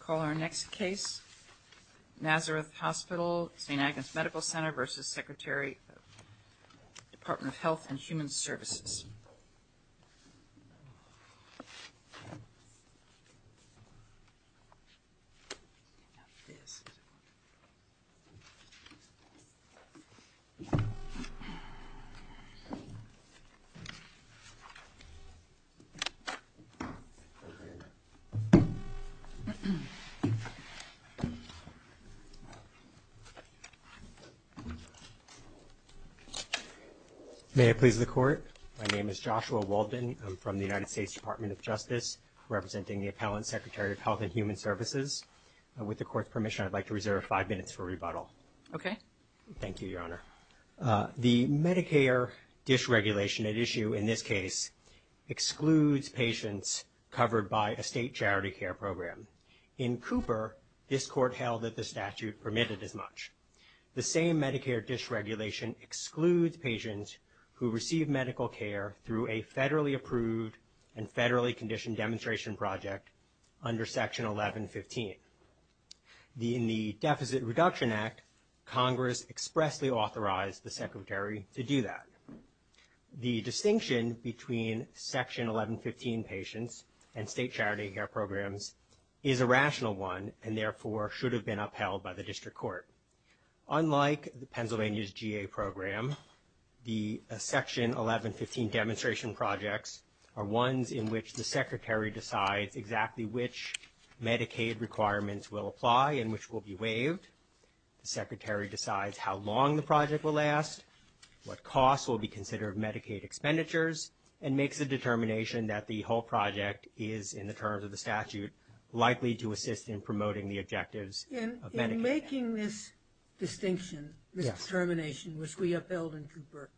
Call our next case, Nazareth Hospital St. Agnes Medical Center v. Secretary of the Department of Health and Human Services. May I please the court? My name is Joshua Walden. I'm from the United States Department of Justice, representing the Appellant Secretary of Health and Human Services. With the court's permission, I'd like to reserve five minutes for rebuttal. Okay. Thank you, Your Honor. The Medicare dysregulation at issue in this case excludes patients covered by a state charity care program. In Cooper, this court held that the statute permitted as much. The same Medicare dysregulation excludes patients who receive medical care through a federally approved and federally conditioned demonstration project under Section 1115. In the Deficit Reduction Act, Congress expressly authorized the Secretary to do that. The distinction between Section 1115 patients and state charity care programs is a rational one and therefore should have been upheld by the district court. Unlike Pennsylvania's GA program, the Section 1115 demonstration projects are ones in which the Secretary decides exactly which Medicaid requirements will apply and which will be waived. The Secretary decides how long the project will last, what costs will be considered Medicaid expenditures, and makes a determination that the whole project is, in the terms of the statute, likely to assist in promoting the objectives of Medicaid. In making this distinction, this determination, which we upheld in Cooper,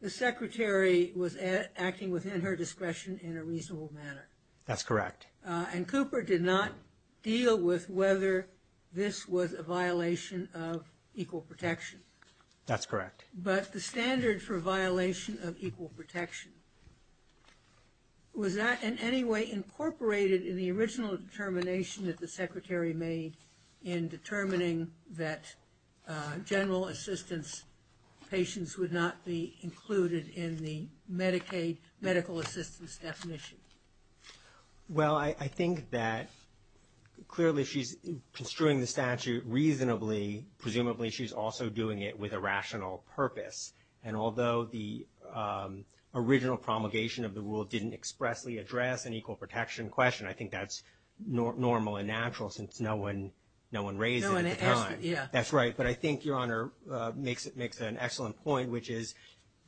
the Secretary was acting within her discretion in a reasonable manner. That's correct. And Cooper did not deal with whether this was a violation of equal protection. That's correct. But the standard for violation of equal protection, was that in any way incorporated in the original determination that the Secretary made in determining that general assistance patients would not be included in the Medicaid medical assistance definition? Well, I think that clearly she's construing the statute reasonably. Presumably, she's also doing it with a rational purpose. And although the original promulgation of the rule didn't expressly address an equal protection question, I think that's normal and natural since no one raised it at the time. That's right. But I think Your Honor makes an excellent point, which is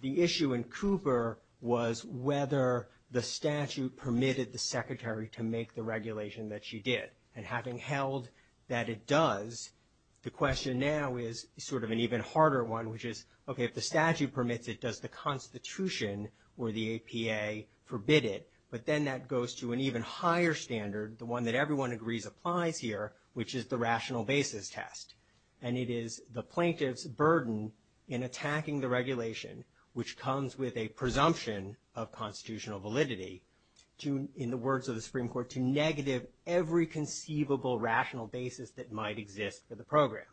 the issue in Cooper was whether the statute permitted the Secretary to make the regulation that she did. And having held that it does, the question now is sort of an even harder one, which is, okay, if the statute permits it, does the Constitution or the APA forbid it? But then that goes to an even higher standard, the one that everyone agrees applies here, which is the rational basis test. And it is the plaintiff's burden in attacking the regulation, which comes with a presumption of constitutional validity, in the words of the Supreme Court, to negative every conceivable rational basis that might exist for the program.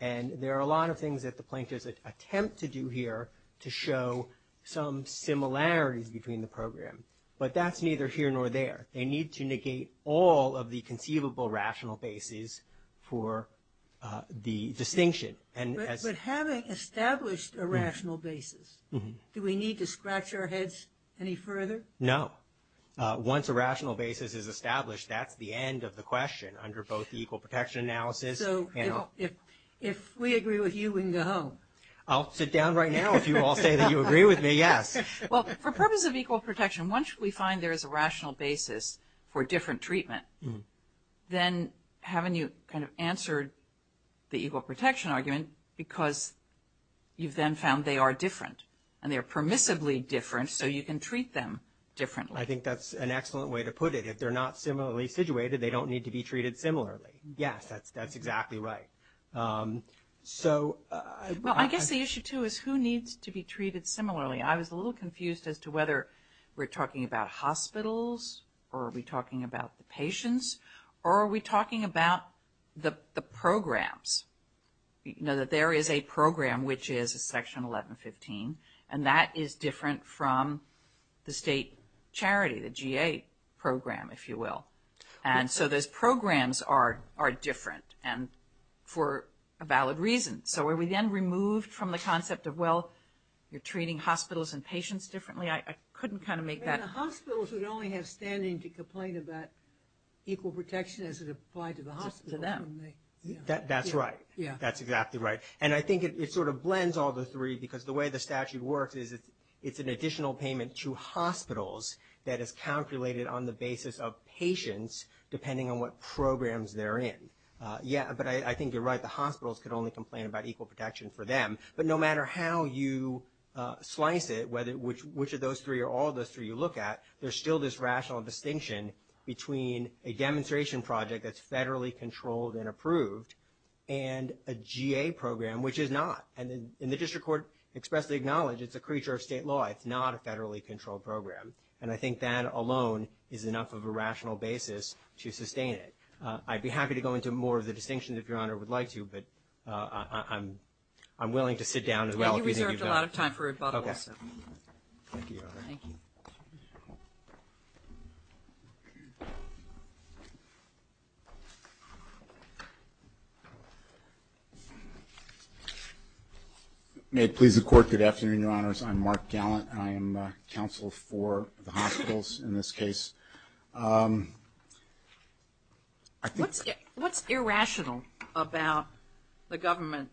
And there are a lot of things that the plaintiffs attempt to do here to show some similarities between the program. But that's neither here nor there. They need to negate all of the conceivable rational bases for the distinction. But having established a rational basis, do we need to scratch our heads any further? No. Once a rational basis is established, that's the end of the question under both the equal protection analysis and – So if we agree with you, we can go home. I'll sit down right now if you all say that you agree with me, yes. Well, for purpose of equal protection, once we find there is a rational basis for different treatment, then haven't you kind of answered the equal protection argument because you've then found they are different? And they are permissibly different, so you can treat them differently. I think that's an excellent way to put it. If they're not similarly situated, they don't need to be treated similarly. Yes, that's exactly right. So – Well, I guess the issue, too, is who needs to be treated similarly? I was a little confused as to whether we're talking about hospitals, or are we talking about the patients, or are we talking about the programs? You know, that there is a program which is a Section 1115, and that is different from the state charity, the GA program, if you will. And so those programs are different, and for a valid reason. So are we then removed from the concept of, well, you're treating hospitals and patients differently? I couldn't kind of make that – And the hospitals would only have standing to complain about equal protection as it applied to the hospitals. To them. That's right. That's exactly right. And I think it sort of blends all the three, because the way the statute works is it's an additional payment to hospitals that is calculated on the basis of patients, depending on what programs they're in. Yeah, but I think you're right. The hospitals could only complain about equal protection for them. But no matter how you slice it, which of those three or all of those three you look at, there's still this rational distinction between a demonstration project that's federally controlled and approved and a GA program, which is not. And the district court expressly acknowledged it's a creature of state law. It's not a federally controlled program. And I think that alone is enough of a rational basis to sustain it. I'd be happy to go into more of the distinctions if Your Honor would like to, but I'm willing to sit down as well. Yeah, you reserved a lot of time for rebuttal, so. Okay. Thank you, Your Honor. Thank you. I'm Mark Gallant, and I am counsel for the hospitals in this case. What's irrational about the government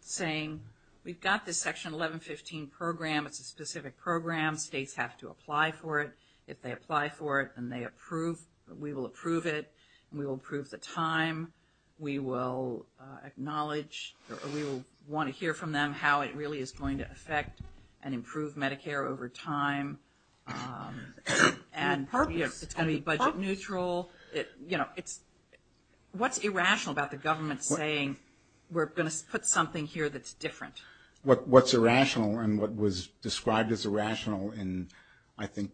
saying we've got this Section 1115 program, it's a specific program, states have to apply for it. If they apply for it and they approve, we will approve it, and we will approve the time. We will acknowledge or we will want to hear from them how it really is going to affect and improve Medicare over time. And it's going to be budget neutral. What's irrational about the government saying we're going to put something here that's different? What's irrational and what was described as irrational in, I think,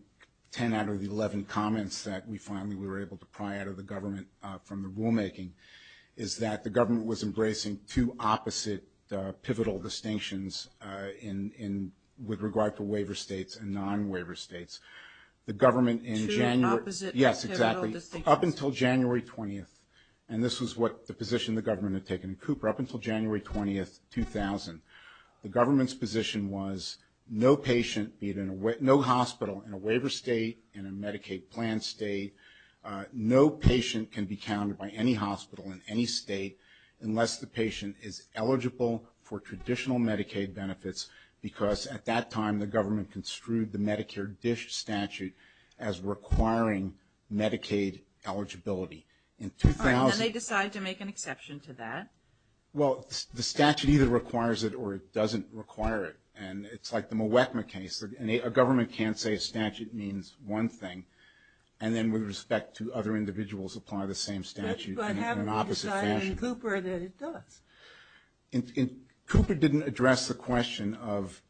10 out of the 11 comments that we finally were able to pry out of the government from the rulemaking, is that the government was embracing two opposite pivotal distinctions with regard to waiver states and non-waiver states. The government in January. Two opposite pivotal distinctions. Yes, exactly. Up until January 20th, and this was what the position the government had taken in Cooper, up until January 20th, 2000, the government's position was no patient, no hospital, in a waiver state, in a Medicaid plan state, no patient can be counted by any hospital in any state unless the patient is eligible for traditional Medicaid benefits, because at that time the government construed the Medicare DISH statute as requiring Medicaid eligibility. And they decided to make an exception to that? Well, the statute either requires it or it doesn't require it. And it's like the Mwekma case. A government can't say a statute means one thing and then with respect to other individuals apply the same statute in an opposite fashion. But haven't they decided in Cooper that it does? Cooper didn't address the question of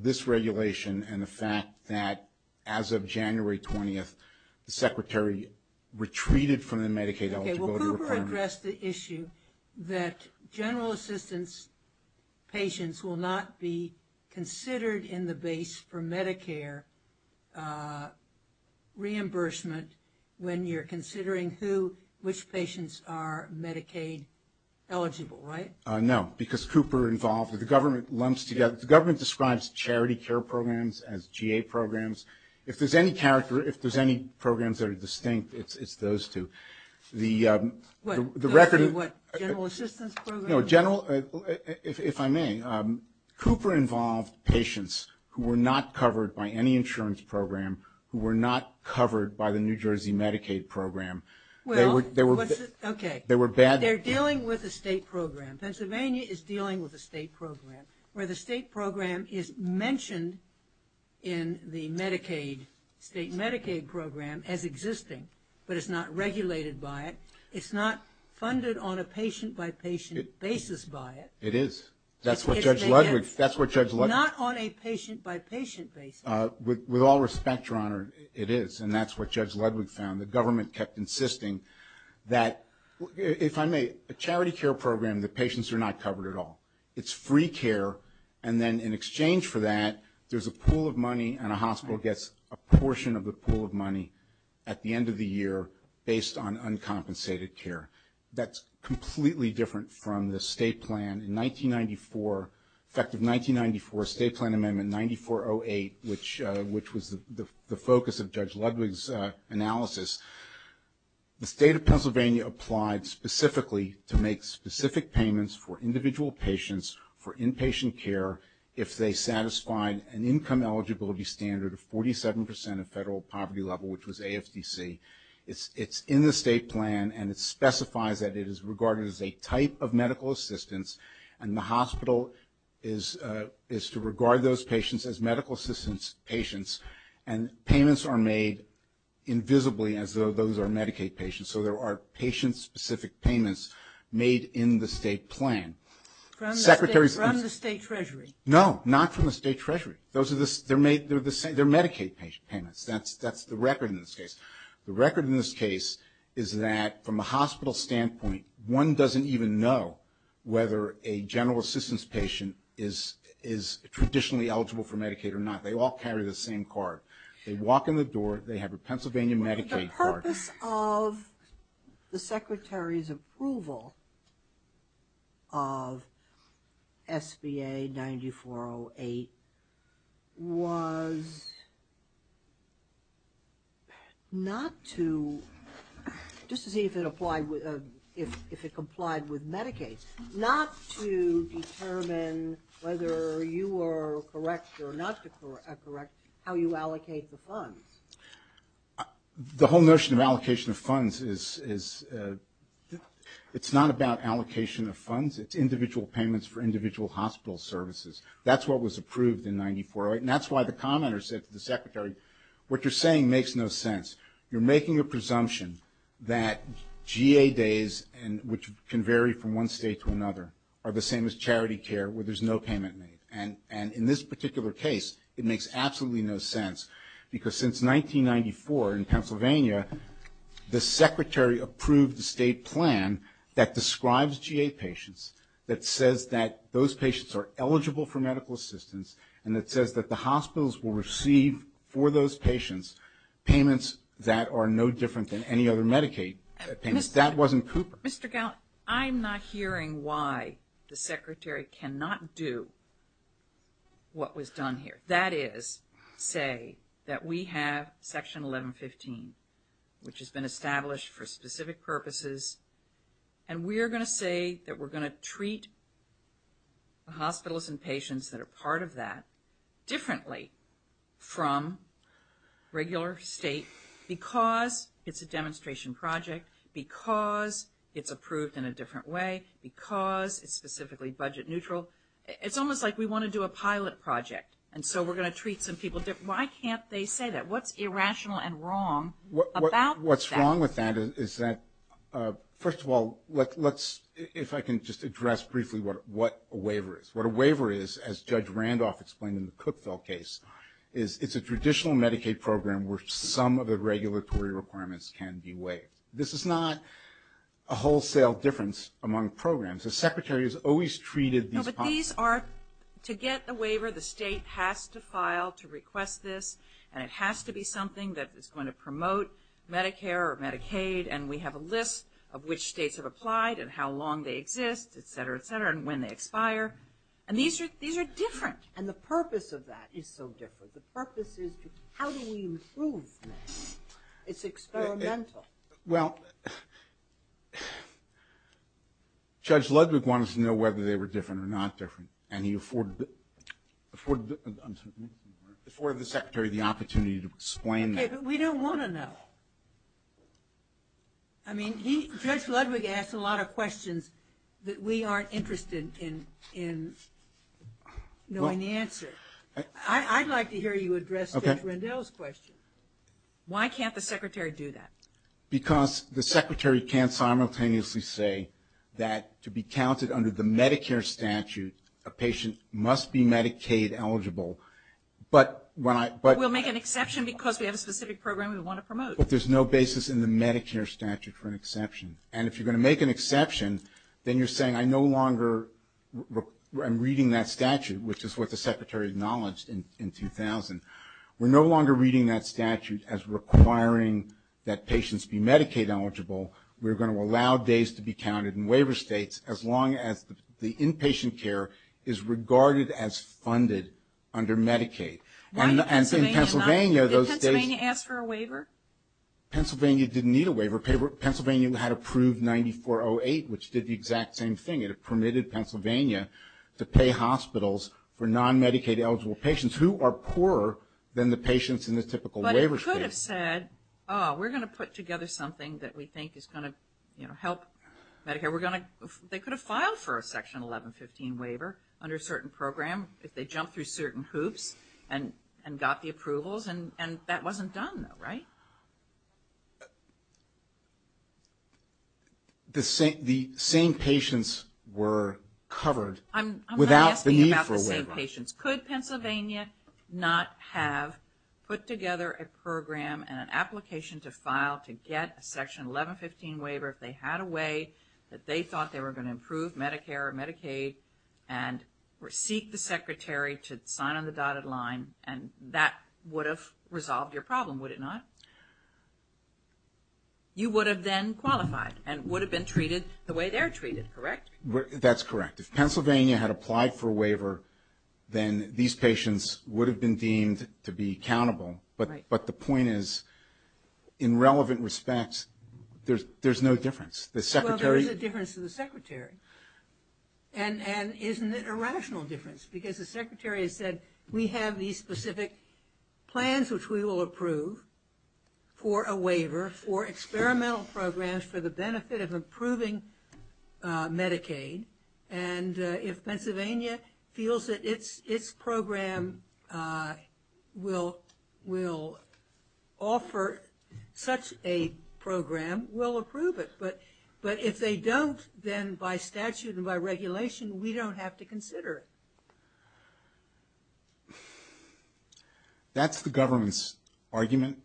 this regulation and the fact that as of January 20th, the Secretary retreated from the Medicaid eligibility requirement. He addressed the issue that general assistance patients will not be considered in the base for Medicare reimbursement when you're considering who, which patients are Medicaid eligible, right? No, because Cooper involved, the government lumps together, the government describes charity care programs as GA programs. If there's any character, if there's any programs that are distinct, it's those two. What, the general assistance program? No, general, if I may, Cooper involved patients who were not covered by any insurance program, who were not covered by the New Jersey Medicaid program. Well, okay. They were bad. They're dealing with a state program. Pennsylvania is dealing with a state program where the state program is mentioned in the Medicaid, state Medicaid program as existing, but it's not regulated by it. It's not funded on a patient-by-patient basis by it. It is. That's what Judge Ludwig, that's what Judge Ludwig. Not on a patient-by-patient basis. With all respect, Your Honor, it is, and that's what Judge Ludwig found. The government kept insisting that, if I may, a charity care program, the patients are not covered at all. It's free care. And then in exchange for that, there's a pool of money, and a hospital gets a portion of the pool of money at the end of the year based on uncompensated care. That's completely different from the state plan. In 1994, effective 1994, state plan amendment 9408, which was the focus of Judge Ludwig's analysis, the state of Pennsylvania applied specifically to make specific payments for individual patients, for inpatient care, if they satisfied an income eligibility standard of 47 percent of federal poverty level, which was AFDC. It's in the state plan, and it specifies that it is regarded as a type of medical assistance, and the hospital is to regard those patients as medical assistance patients, and payments are made invisibly as though those are Medicaid patients. So there are patient-specific payments made in the state plan. From the state treasury? No, not from the state treasury. They're Medicaid payments. That's the record in this case. The record in this case is that from a hospital standpoint, one doesn't even know whether a general assistance patient is traditionally eligible for Medicaid or not. They all carry the same card. They walk in the door. They have a Pennsylvania Medicaid card. The purpose of the Secretary's approval of SBA 9408 was not to, just to see if it complied with Medicaid, not to determine whether you were correct or not correct how you allocate the funds. The whole notion of allocation of funds is it's not about allocation of funds. It's individual payments for individual hospital services. That's what was approved in 9408, and that's why the commenter said to the Secretary, what you're saying makes no sense. You're making a presumption that GA days, which can vary from one state to another, are the same as charity care where there's no payment made. And in this particular case, it makes absolutely no sense, because since 1994 in Pennsylvania, the Secretary approved the state plan that describes GA patients, that says that those patients are eligible for medical assistance, and that says that the hospitals will receive for those patients payments that are no different than any other Medicaid payments. That wasn't Cooper. Mr. Gallant, I'm not hearing why the Secretary cannot do what was done here. That is, say that we have Section 1115, which has been established for specific purposes, and we're going to say that we're going to treat the hospitals and patients that are part of that differently from regular state, because it's a demonstration project, because it's approved in a different way, because it's specifically budget neutral. It's almost like we want to do a pilot project, and so we're going to treat some people differently. Why can't they say that? What's irrational and wrong about that? What's wrong with that is that, first of all, if I can just address briefly what a waiver is. What a waiver is, as Judge Randolph explained in the Cookville case, is it's a traditional Medicaid program where some of the regulatory requirements can be waived. This is not a wholesale difference among programs. The Secretary has always treated these hospitals. These are to get the waiver, the state has to file to request this, and it has to be something that is going to promote Medicare or Medicaid, and we have a list of which states have applied and how long they exist, et cetera, et cetera, and when they expire. And these are different, and the purpose of that is so different. The purpose is how do we improve this? It's experimental. Well, Judge Ludwig wanted to know whether they were different or not different, and he afforded the Secretary the opportunity to explain that. Okay, but we don't want to know. I mean, Judge Ludwig asked a lot of questions that we aren't interested in knowing the answer. I'd like to hear you address Judge Rendell's question. Why can't the Secretary do that? Because the Secretary can't simultaneously say that to be counted under the Medicare statute, a patient must be Medicaid eligible. We'll make an exception because we have a specific program we want to promote. But there's no basis in the Medicare statute for an exception. And if you're going to make an exception, then you're saying I no longer am reading that statute, which is what the Secretary acknowledged in 2000. We're no longer reading that statute as requiring that patients be Medicaid eligible. We're going to allow days to be counted in waiver states, as long as the inpatient care is regarded as funded under Medicaid. And in Pennsylvania, those days — Did Pennsylvania ask for a waiver? Pennsylvania didn't need a waiver. Pennsylvania had approved 9408, which did the exact same thing. It permitted Pennsylvania to pay hospitals for non-Medicaid eligible patients who are poorer than the patients in the typical waiver state. But it could have said, oh, we're going to put together something that we think is going to help Medicare. They could have filed for a Section 1115 waiver under a certain program if they jumped through certain hoops and got the approvals. And that wasn't done, right? The same patients were covered without the need for a waiver. I'm going to ask you about the same patients. Could Pennsylvania not have put together a program and an application to file to get a Section 1115 waiver if they had a way that they thought they were going to improve Medicare or Medicaid and seek the Secretary to sign on the dotted line, and that would have resolved your problem, would it not? You would have then qualified and would have been treated the way they're treated, correct? That's correct. If Pennsylvania had applied for a waiver, then these patients would have been deemed to be accountable. But the point is, in relevant respects, there's no difference. The Secretary — Well, there is a difference to the Secretary. And isn't it a rational difference? Because the Secretary has said, we have these specific plans which we will approve for a waiver, for experimental programs for the benefit of improving Medicaid, and if Pennsylvania feels that its program will offer such a program, we'll approve it. But if they don't, then by statute and by regulation, we don't have to consider it. That's the government's argument.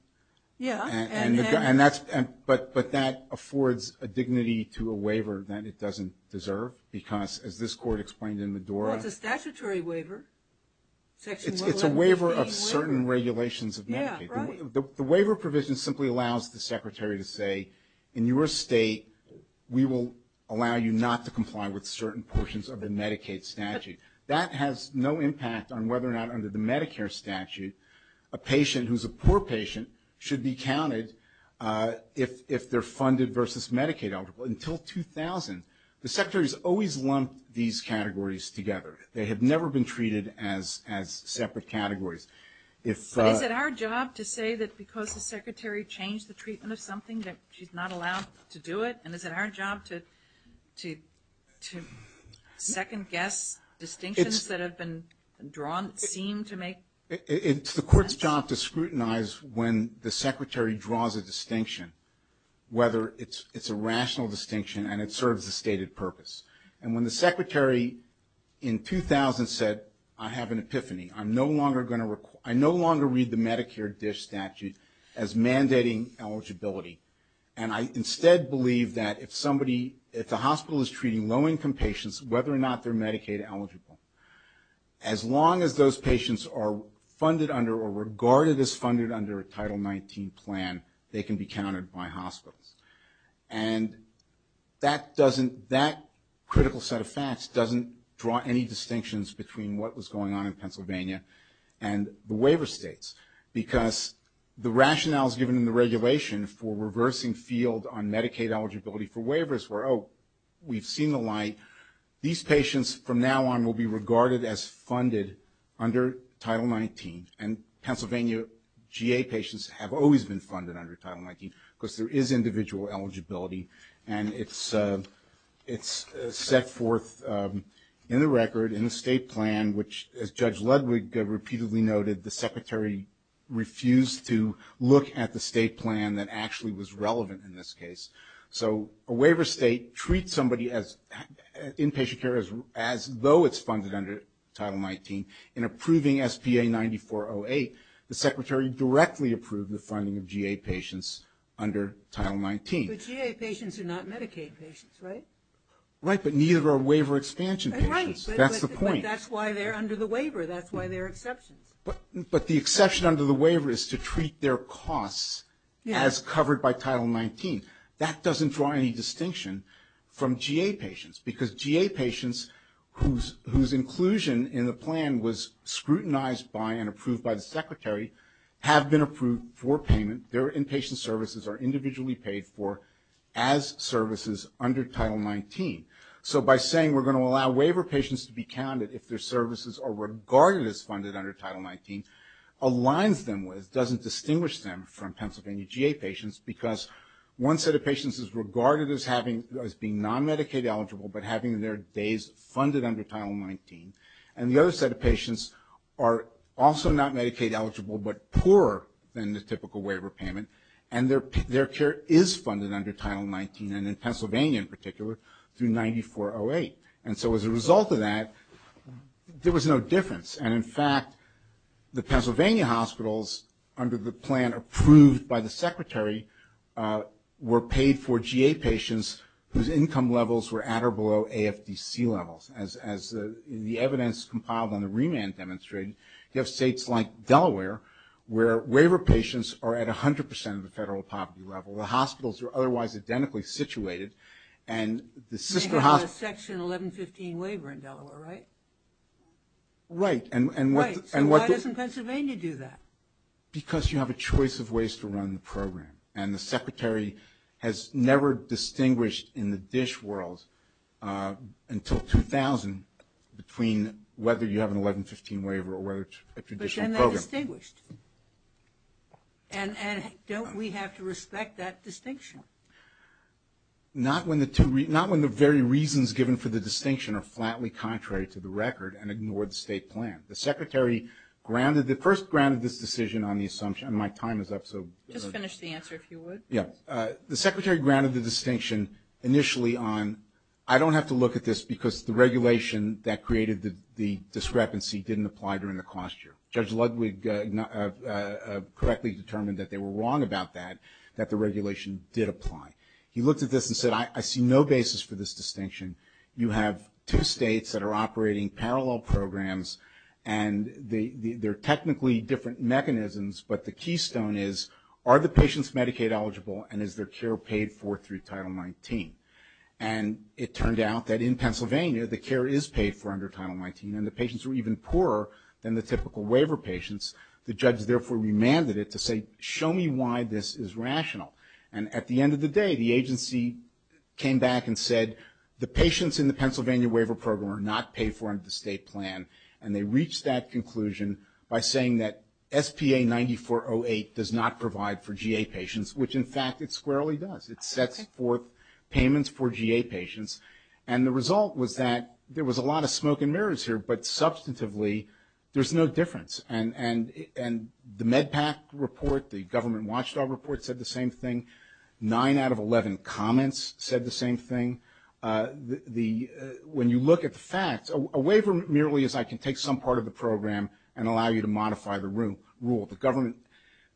Yeah. But that affords a dignity to a waiver that it doesn't deserve because, as this Court explained in Medora — Well, it's a statutory waiver. It's a waiver of certain regulations of Medicaid. Yeah, right. The waiver provision simply allows the Secretary to say, in your state, we will allow you not to comply with certain portions of the Medicaid statute. That has no impact on whether or not, under the Medicare statute, a patient who's a poor patient should be counted if they're funded versus Medicaid eligible. Until 2000, the Secretary has always lumped these categories together. They have never been treated as separate categories. But is it our job to say that because the Secretary changed the treatment of something that she's not allowed to do it? And is it our job to second-guess distinctions that have been seen to make sense? It's the Court's job to scrutinize when the Secretary draws a distinction, whether it's a rational distinction and it serves a stated purpose. And when the Secretary in 2000 said, I have an epiphany, I no longer read the Medicare DISH statute as mandating eligibility. And I instead believe that if the hospital is treating low-income patients, whether or not they're Medicaid eligible, as long as those patients are funded under or regarded as funded under a Title 19 plan, they can be counted by hospitals. And that critical set of facts doesn't draw any distinctions between what was going on in Pennsylvania and the waiver states. Because the rationales given in the regulation for reversing field on Medicaid eligibility for waivers were, oh, we've seen the light. These patients from now on will be regarded as funded under Title 19. And Pennsylvania GA patients have always been funded under Title 19 because there is individual eligibility. And it's set forth in the record in the state plan, which as Judge Ludwig repeatedly noted, the Secretary refused to look at the state plan that actually was relevant in this case. So a waiver state treats somebody inpatient care as though it's funded under Title 19. In approving SPA 9408, the Secretary directly approved the funding of GA patients under Title 19. But GA patients are not Medicaid patients, right? Right, but neither are waiver expansion patients. Right. That's the point. But that's why they're under the waiver. That's why there are exceptions. But the exception under the waiver is to treat their costs as covered by Title 19. That doesn't draw any distinction from GA patients. Because GA patients, whose inclusion in the plan was scrutinized by and approved by the Secretary, have been approved for payment. Their inpatient services are individually paid for as services under Title 19. So by saying we're going to allow waiver patients to be counted if their services are regarded as funded under Title 19, aligns them with, doesn't distinguish them from Pennsylvania GA patients, because one set of patients is regarded as being non-Medicaid eligible, but having their days funded under Title 19. And the other set of patients are also not Medicaid eligible, but poorer than the typical waiver payment. And their care is funded under Title 19, and in Pennsylvania in particular, through 9408. And so as a result of that, there was no difference. And, in fact, the Pennsylvania hospitals, under the plan approved by the Secretary, were paid for GA patients whose income levels were at or below AFDC levels. As the evidence compiled on the remand demonstrated, you have states like Delaware, where waiver patients are at 100% of the federal poverty level. The hospitals are otherwise identically situated. And the sister hospitals. You have a Section 1115 waiver in Delaware, right? Right. So why doesn't Pennsylvania do that? Because you have a choice of ways to run the program. And the Secretary has never distinguished in the DISH world, until 2000, between whether you have an 1115 waiver or whether it's a traditional program. But then they're distinguished. And don't we have to respect that distinction? Not when the very reasons given for the distinction are flatly contrary to the record and ignore the state plan. The Secretary first granted this decision on the assumption, and my time is up, so. Just finish the answer, if you would. Yeah. The Secretary granted the distinction initially on, I don't have to look at this because the regulation that created the discrepancy didn't apply during the cost year. Judge Ludwig correctly determined that they were wrong about that, that the regulation did apply. He looked at this and said, I see no basis for this distinction. You have two states that are operating parallel programs, and they're technically different mechanisms, but the keystone is, are the patients Medicaid eligible, and is their care paid for through Title 19? And it turned out that in Pennsylvania, the care is paid for under Title 19, and the patients are even poorer than the typical waiver patients. The judge therefore remanded it to say, show me why this is rational. And at the end of the day, the agency came back and said, the patients in the Pennsylvania waiver program are not paid for under the state plan, and they reached that conclusion by saying that SPA 9408 does not provide for GA patients, which in fact it squarely does. It sets forth payments for GA patients, and the result was that there was a lot of smoke and mirrors here, but substantively there's no difference. And the MedPAC report, the government watchdog report said the same thing. Nine out of 11 comments said the same thing. When you look at the facts, a waiver merely is I can take some part of the program and allow you to modify the rule. The government,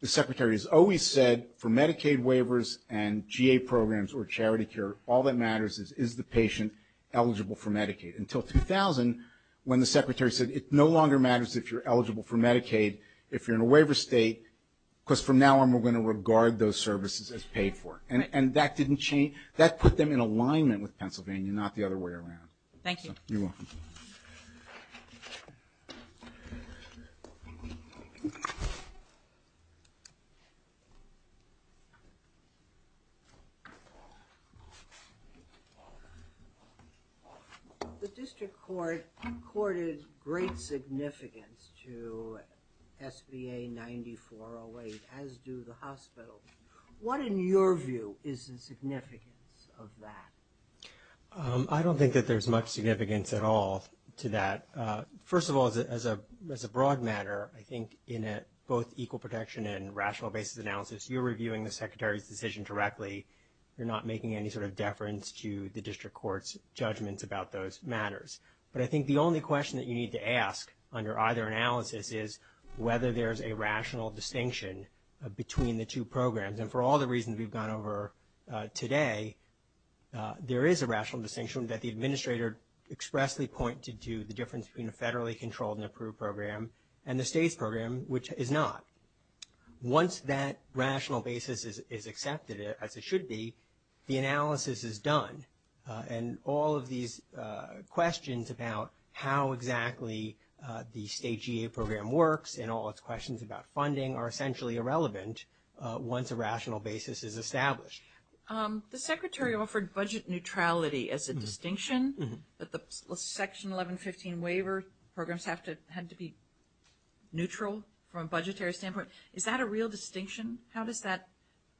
the secretary has always said for Medicaid waivers and GA programs or charity care, all that matters is, is the patient eligible for Medicaid. Until 2000 when the secretary said it no longer matters if you're eligible for Medicaid if you're in a waiver state, because from now on we're going to regard those services as paid for. And that didn't change. That put them in alignment with Pennsylvania, not the other way around. Thank you. You're welcome. Thank you. The district court accorded great significance to SBA 9408, as do the hospitals. What, in your view, is the significance of that? I don't think that there's much significance at all to that. First of all, as a broad matter, I think in both equal protection and rational basis analysis, you're reviewing the secretary's decision directly. You're not making any sort of deference to the district court's judgments about those matters. But I think the only question that you need to ask under either analysis is whether there's a rational distinction between the two programs. And for all the reasons we've gone over today, there is a rational distinction that the administrator expressly pointed to the difference between a federally controlled and approved program and the state's program, which is not. Once that rational basis is accepted, as it should be, the analysis is done. And all of these questions about how exactly the state GA program works and all its questions about funding are essentially irrelevant once a rational basis is established. The secretary offered budget neutrality as a distinction, that the Section 1115 waiver programs had to be neutral from a budgetary standpoint. Is that a real distinction? How does that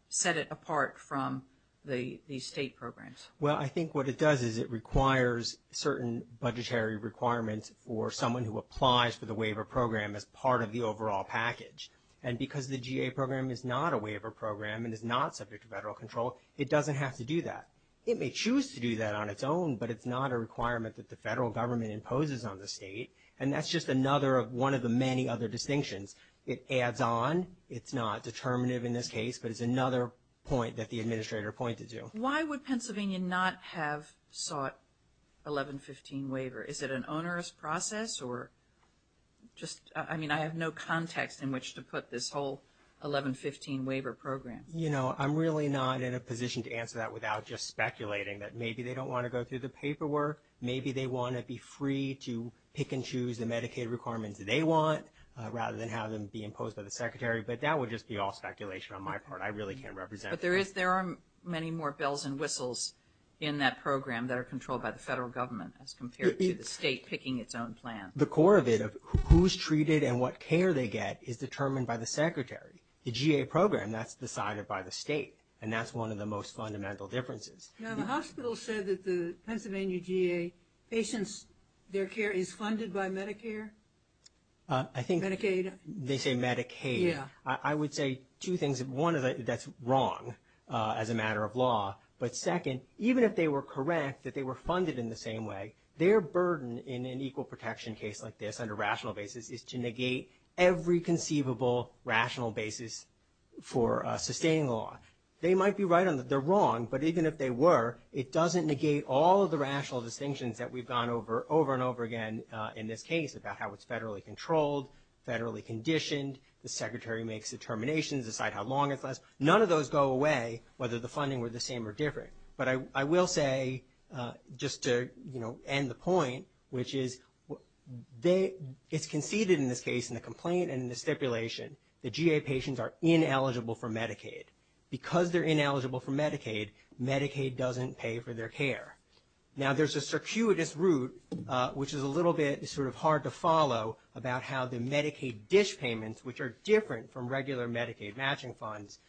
set it apart from the state programs? Well, I think what it does is it requires certain budgetary requirements for someone who applies for the waiver program as part of the overall package. And because the GA program is not a waiver program and is not subject to federal control, it doesn't have to do that. It may choose to do that on its own, but it's not a requirement that the federal government imposes on the state. And that's just another of one of the many other distinctions. It adds on. It's not determinative in this case, but it's another point that the administrator pointed to. Why would Pennsylvania not have sought 1115 waiver? Is it an onerous process? I mean, I have no context in which to put this whole 1115 waiver program. You know, I'm really not in a position to answer that without just speculating that maybe they don't want to go through the paperwork, maybe they want to be free to pick and choose the Medicaid requirements they want rather than have them be imposed by the secretary. But that would just be all speculation on my part. I really can't represent it. But there are many more bells and whistles in that program that are controlled by the federal government as compared to the state picking its own plan. The core of it, of who's treated and what care they get, is determined by the secretary. The GA program, that's decided by the state. And that's one of the most fundamental differences. Now, the hospital said that the Pennsylvania GA patients, their care is funded by Medicare? Medicaid? They say Medicaid. I would say two things. One, that's wrong as a matter of law. But second, even if they were correct that they were funded in the same way, their burden in an equal protection case like this under rational basis is to negate every conceivable rational basis for sustaining the law. They might be right on that they're wrong, but even if they were, it doesn't negate all of the rational distinctions that we've gone over over and over again in this case about how it's federally controlled, federally conditioned. The secretary makes determinations, decide how long it lasts. None of those go away, whether the funding were the same or different. But I will say, just to end the point, which is it's conceded in this case in the complaint and in the stipulation that GA patients are ineligible for Medicaid. Because they're ineligible for Medicaid, Medicaid doesn't pay for their care. Now, there's a circuitous route, which is a little bit sort of hard to follow, about how the Medicaid dish payments, which are different from regular Medicaid matching funds,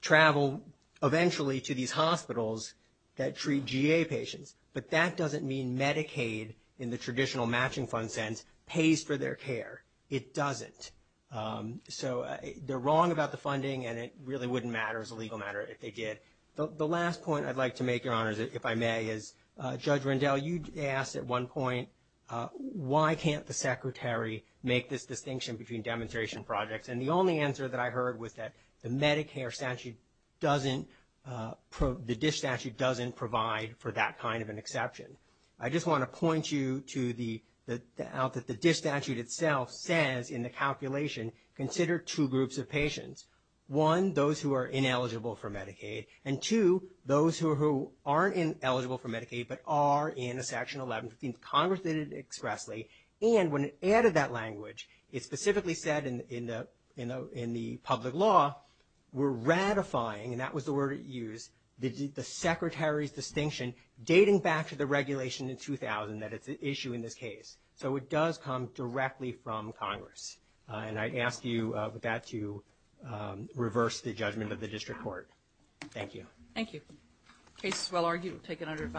travel eventually to these hospitals that treat GA patients. But that doesn't mean Medicaid, in the traditional matching fund sense, pays for their care. It doesn't. So they're wrong about the funding, and it really wouldn't matter as a legal matter if they did. The last point I'd like to make, Your Honors, if I may, is Judge Rendell, you asked at one point, why can't the Secretary make this distinction between demonstration projects? And the only answer that I heard was that the Medicare statute doesn't, the dish statute doesn't provide for that kind of an exception. I just want to point you to the fact that the dish statute itself says in the calculation, consider two groups of patients. One, those who are ineligible for Medicaid, and two, those who aren't ineligible for Medicaid but are in a Section 1115, Congress did it expressly, and when it added that language, it specifically said in the public law, we're ratifying, and that was the word it used, the Secretary's distinction, dating back to the regulation in 2000, that it's an issue in this case. So it does come directly from Congress. And I'd ask you, with that, to reverse the judgment of the district court. Thank you. Thank you. The case is well argued. We'll take another five minutes.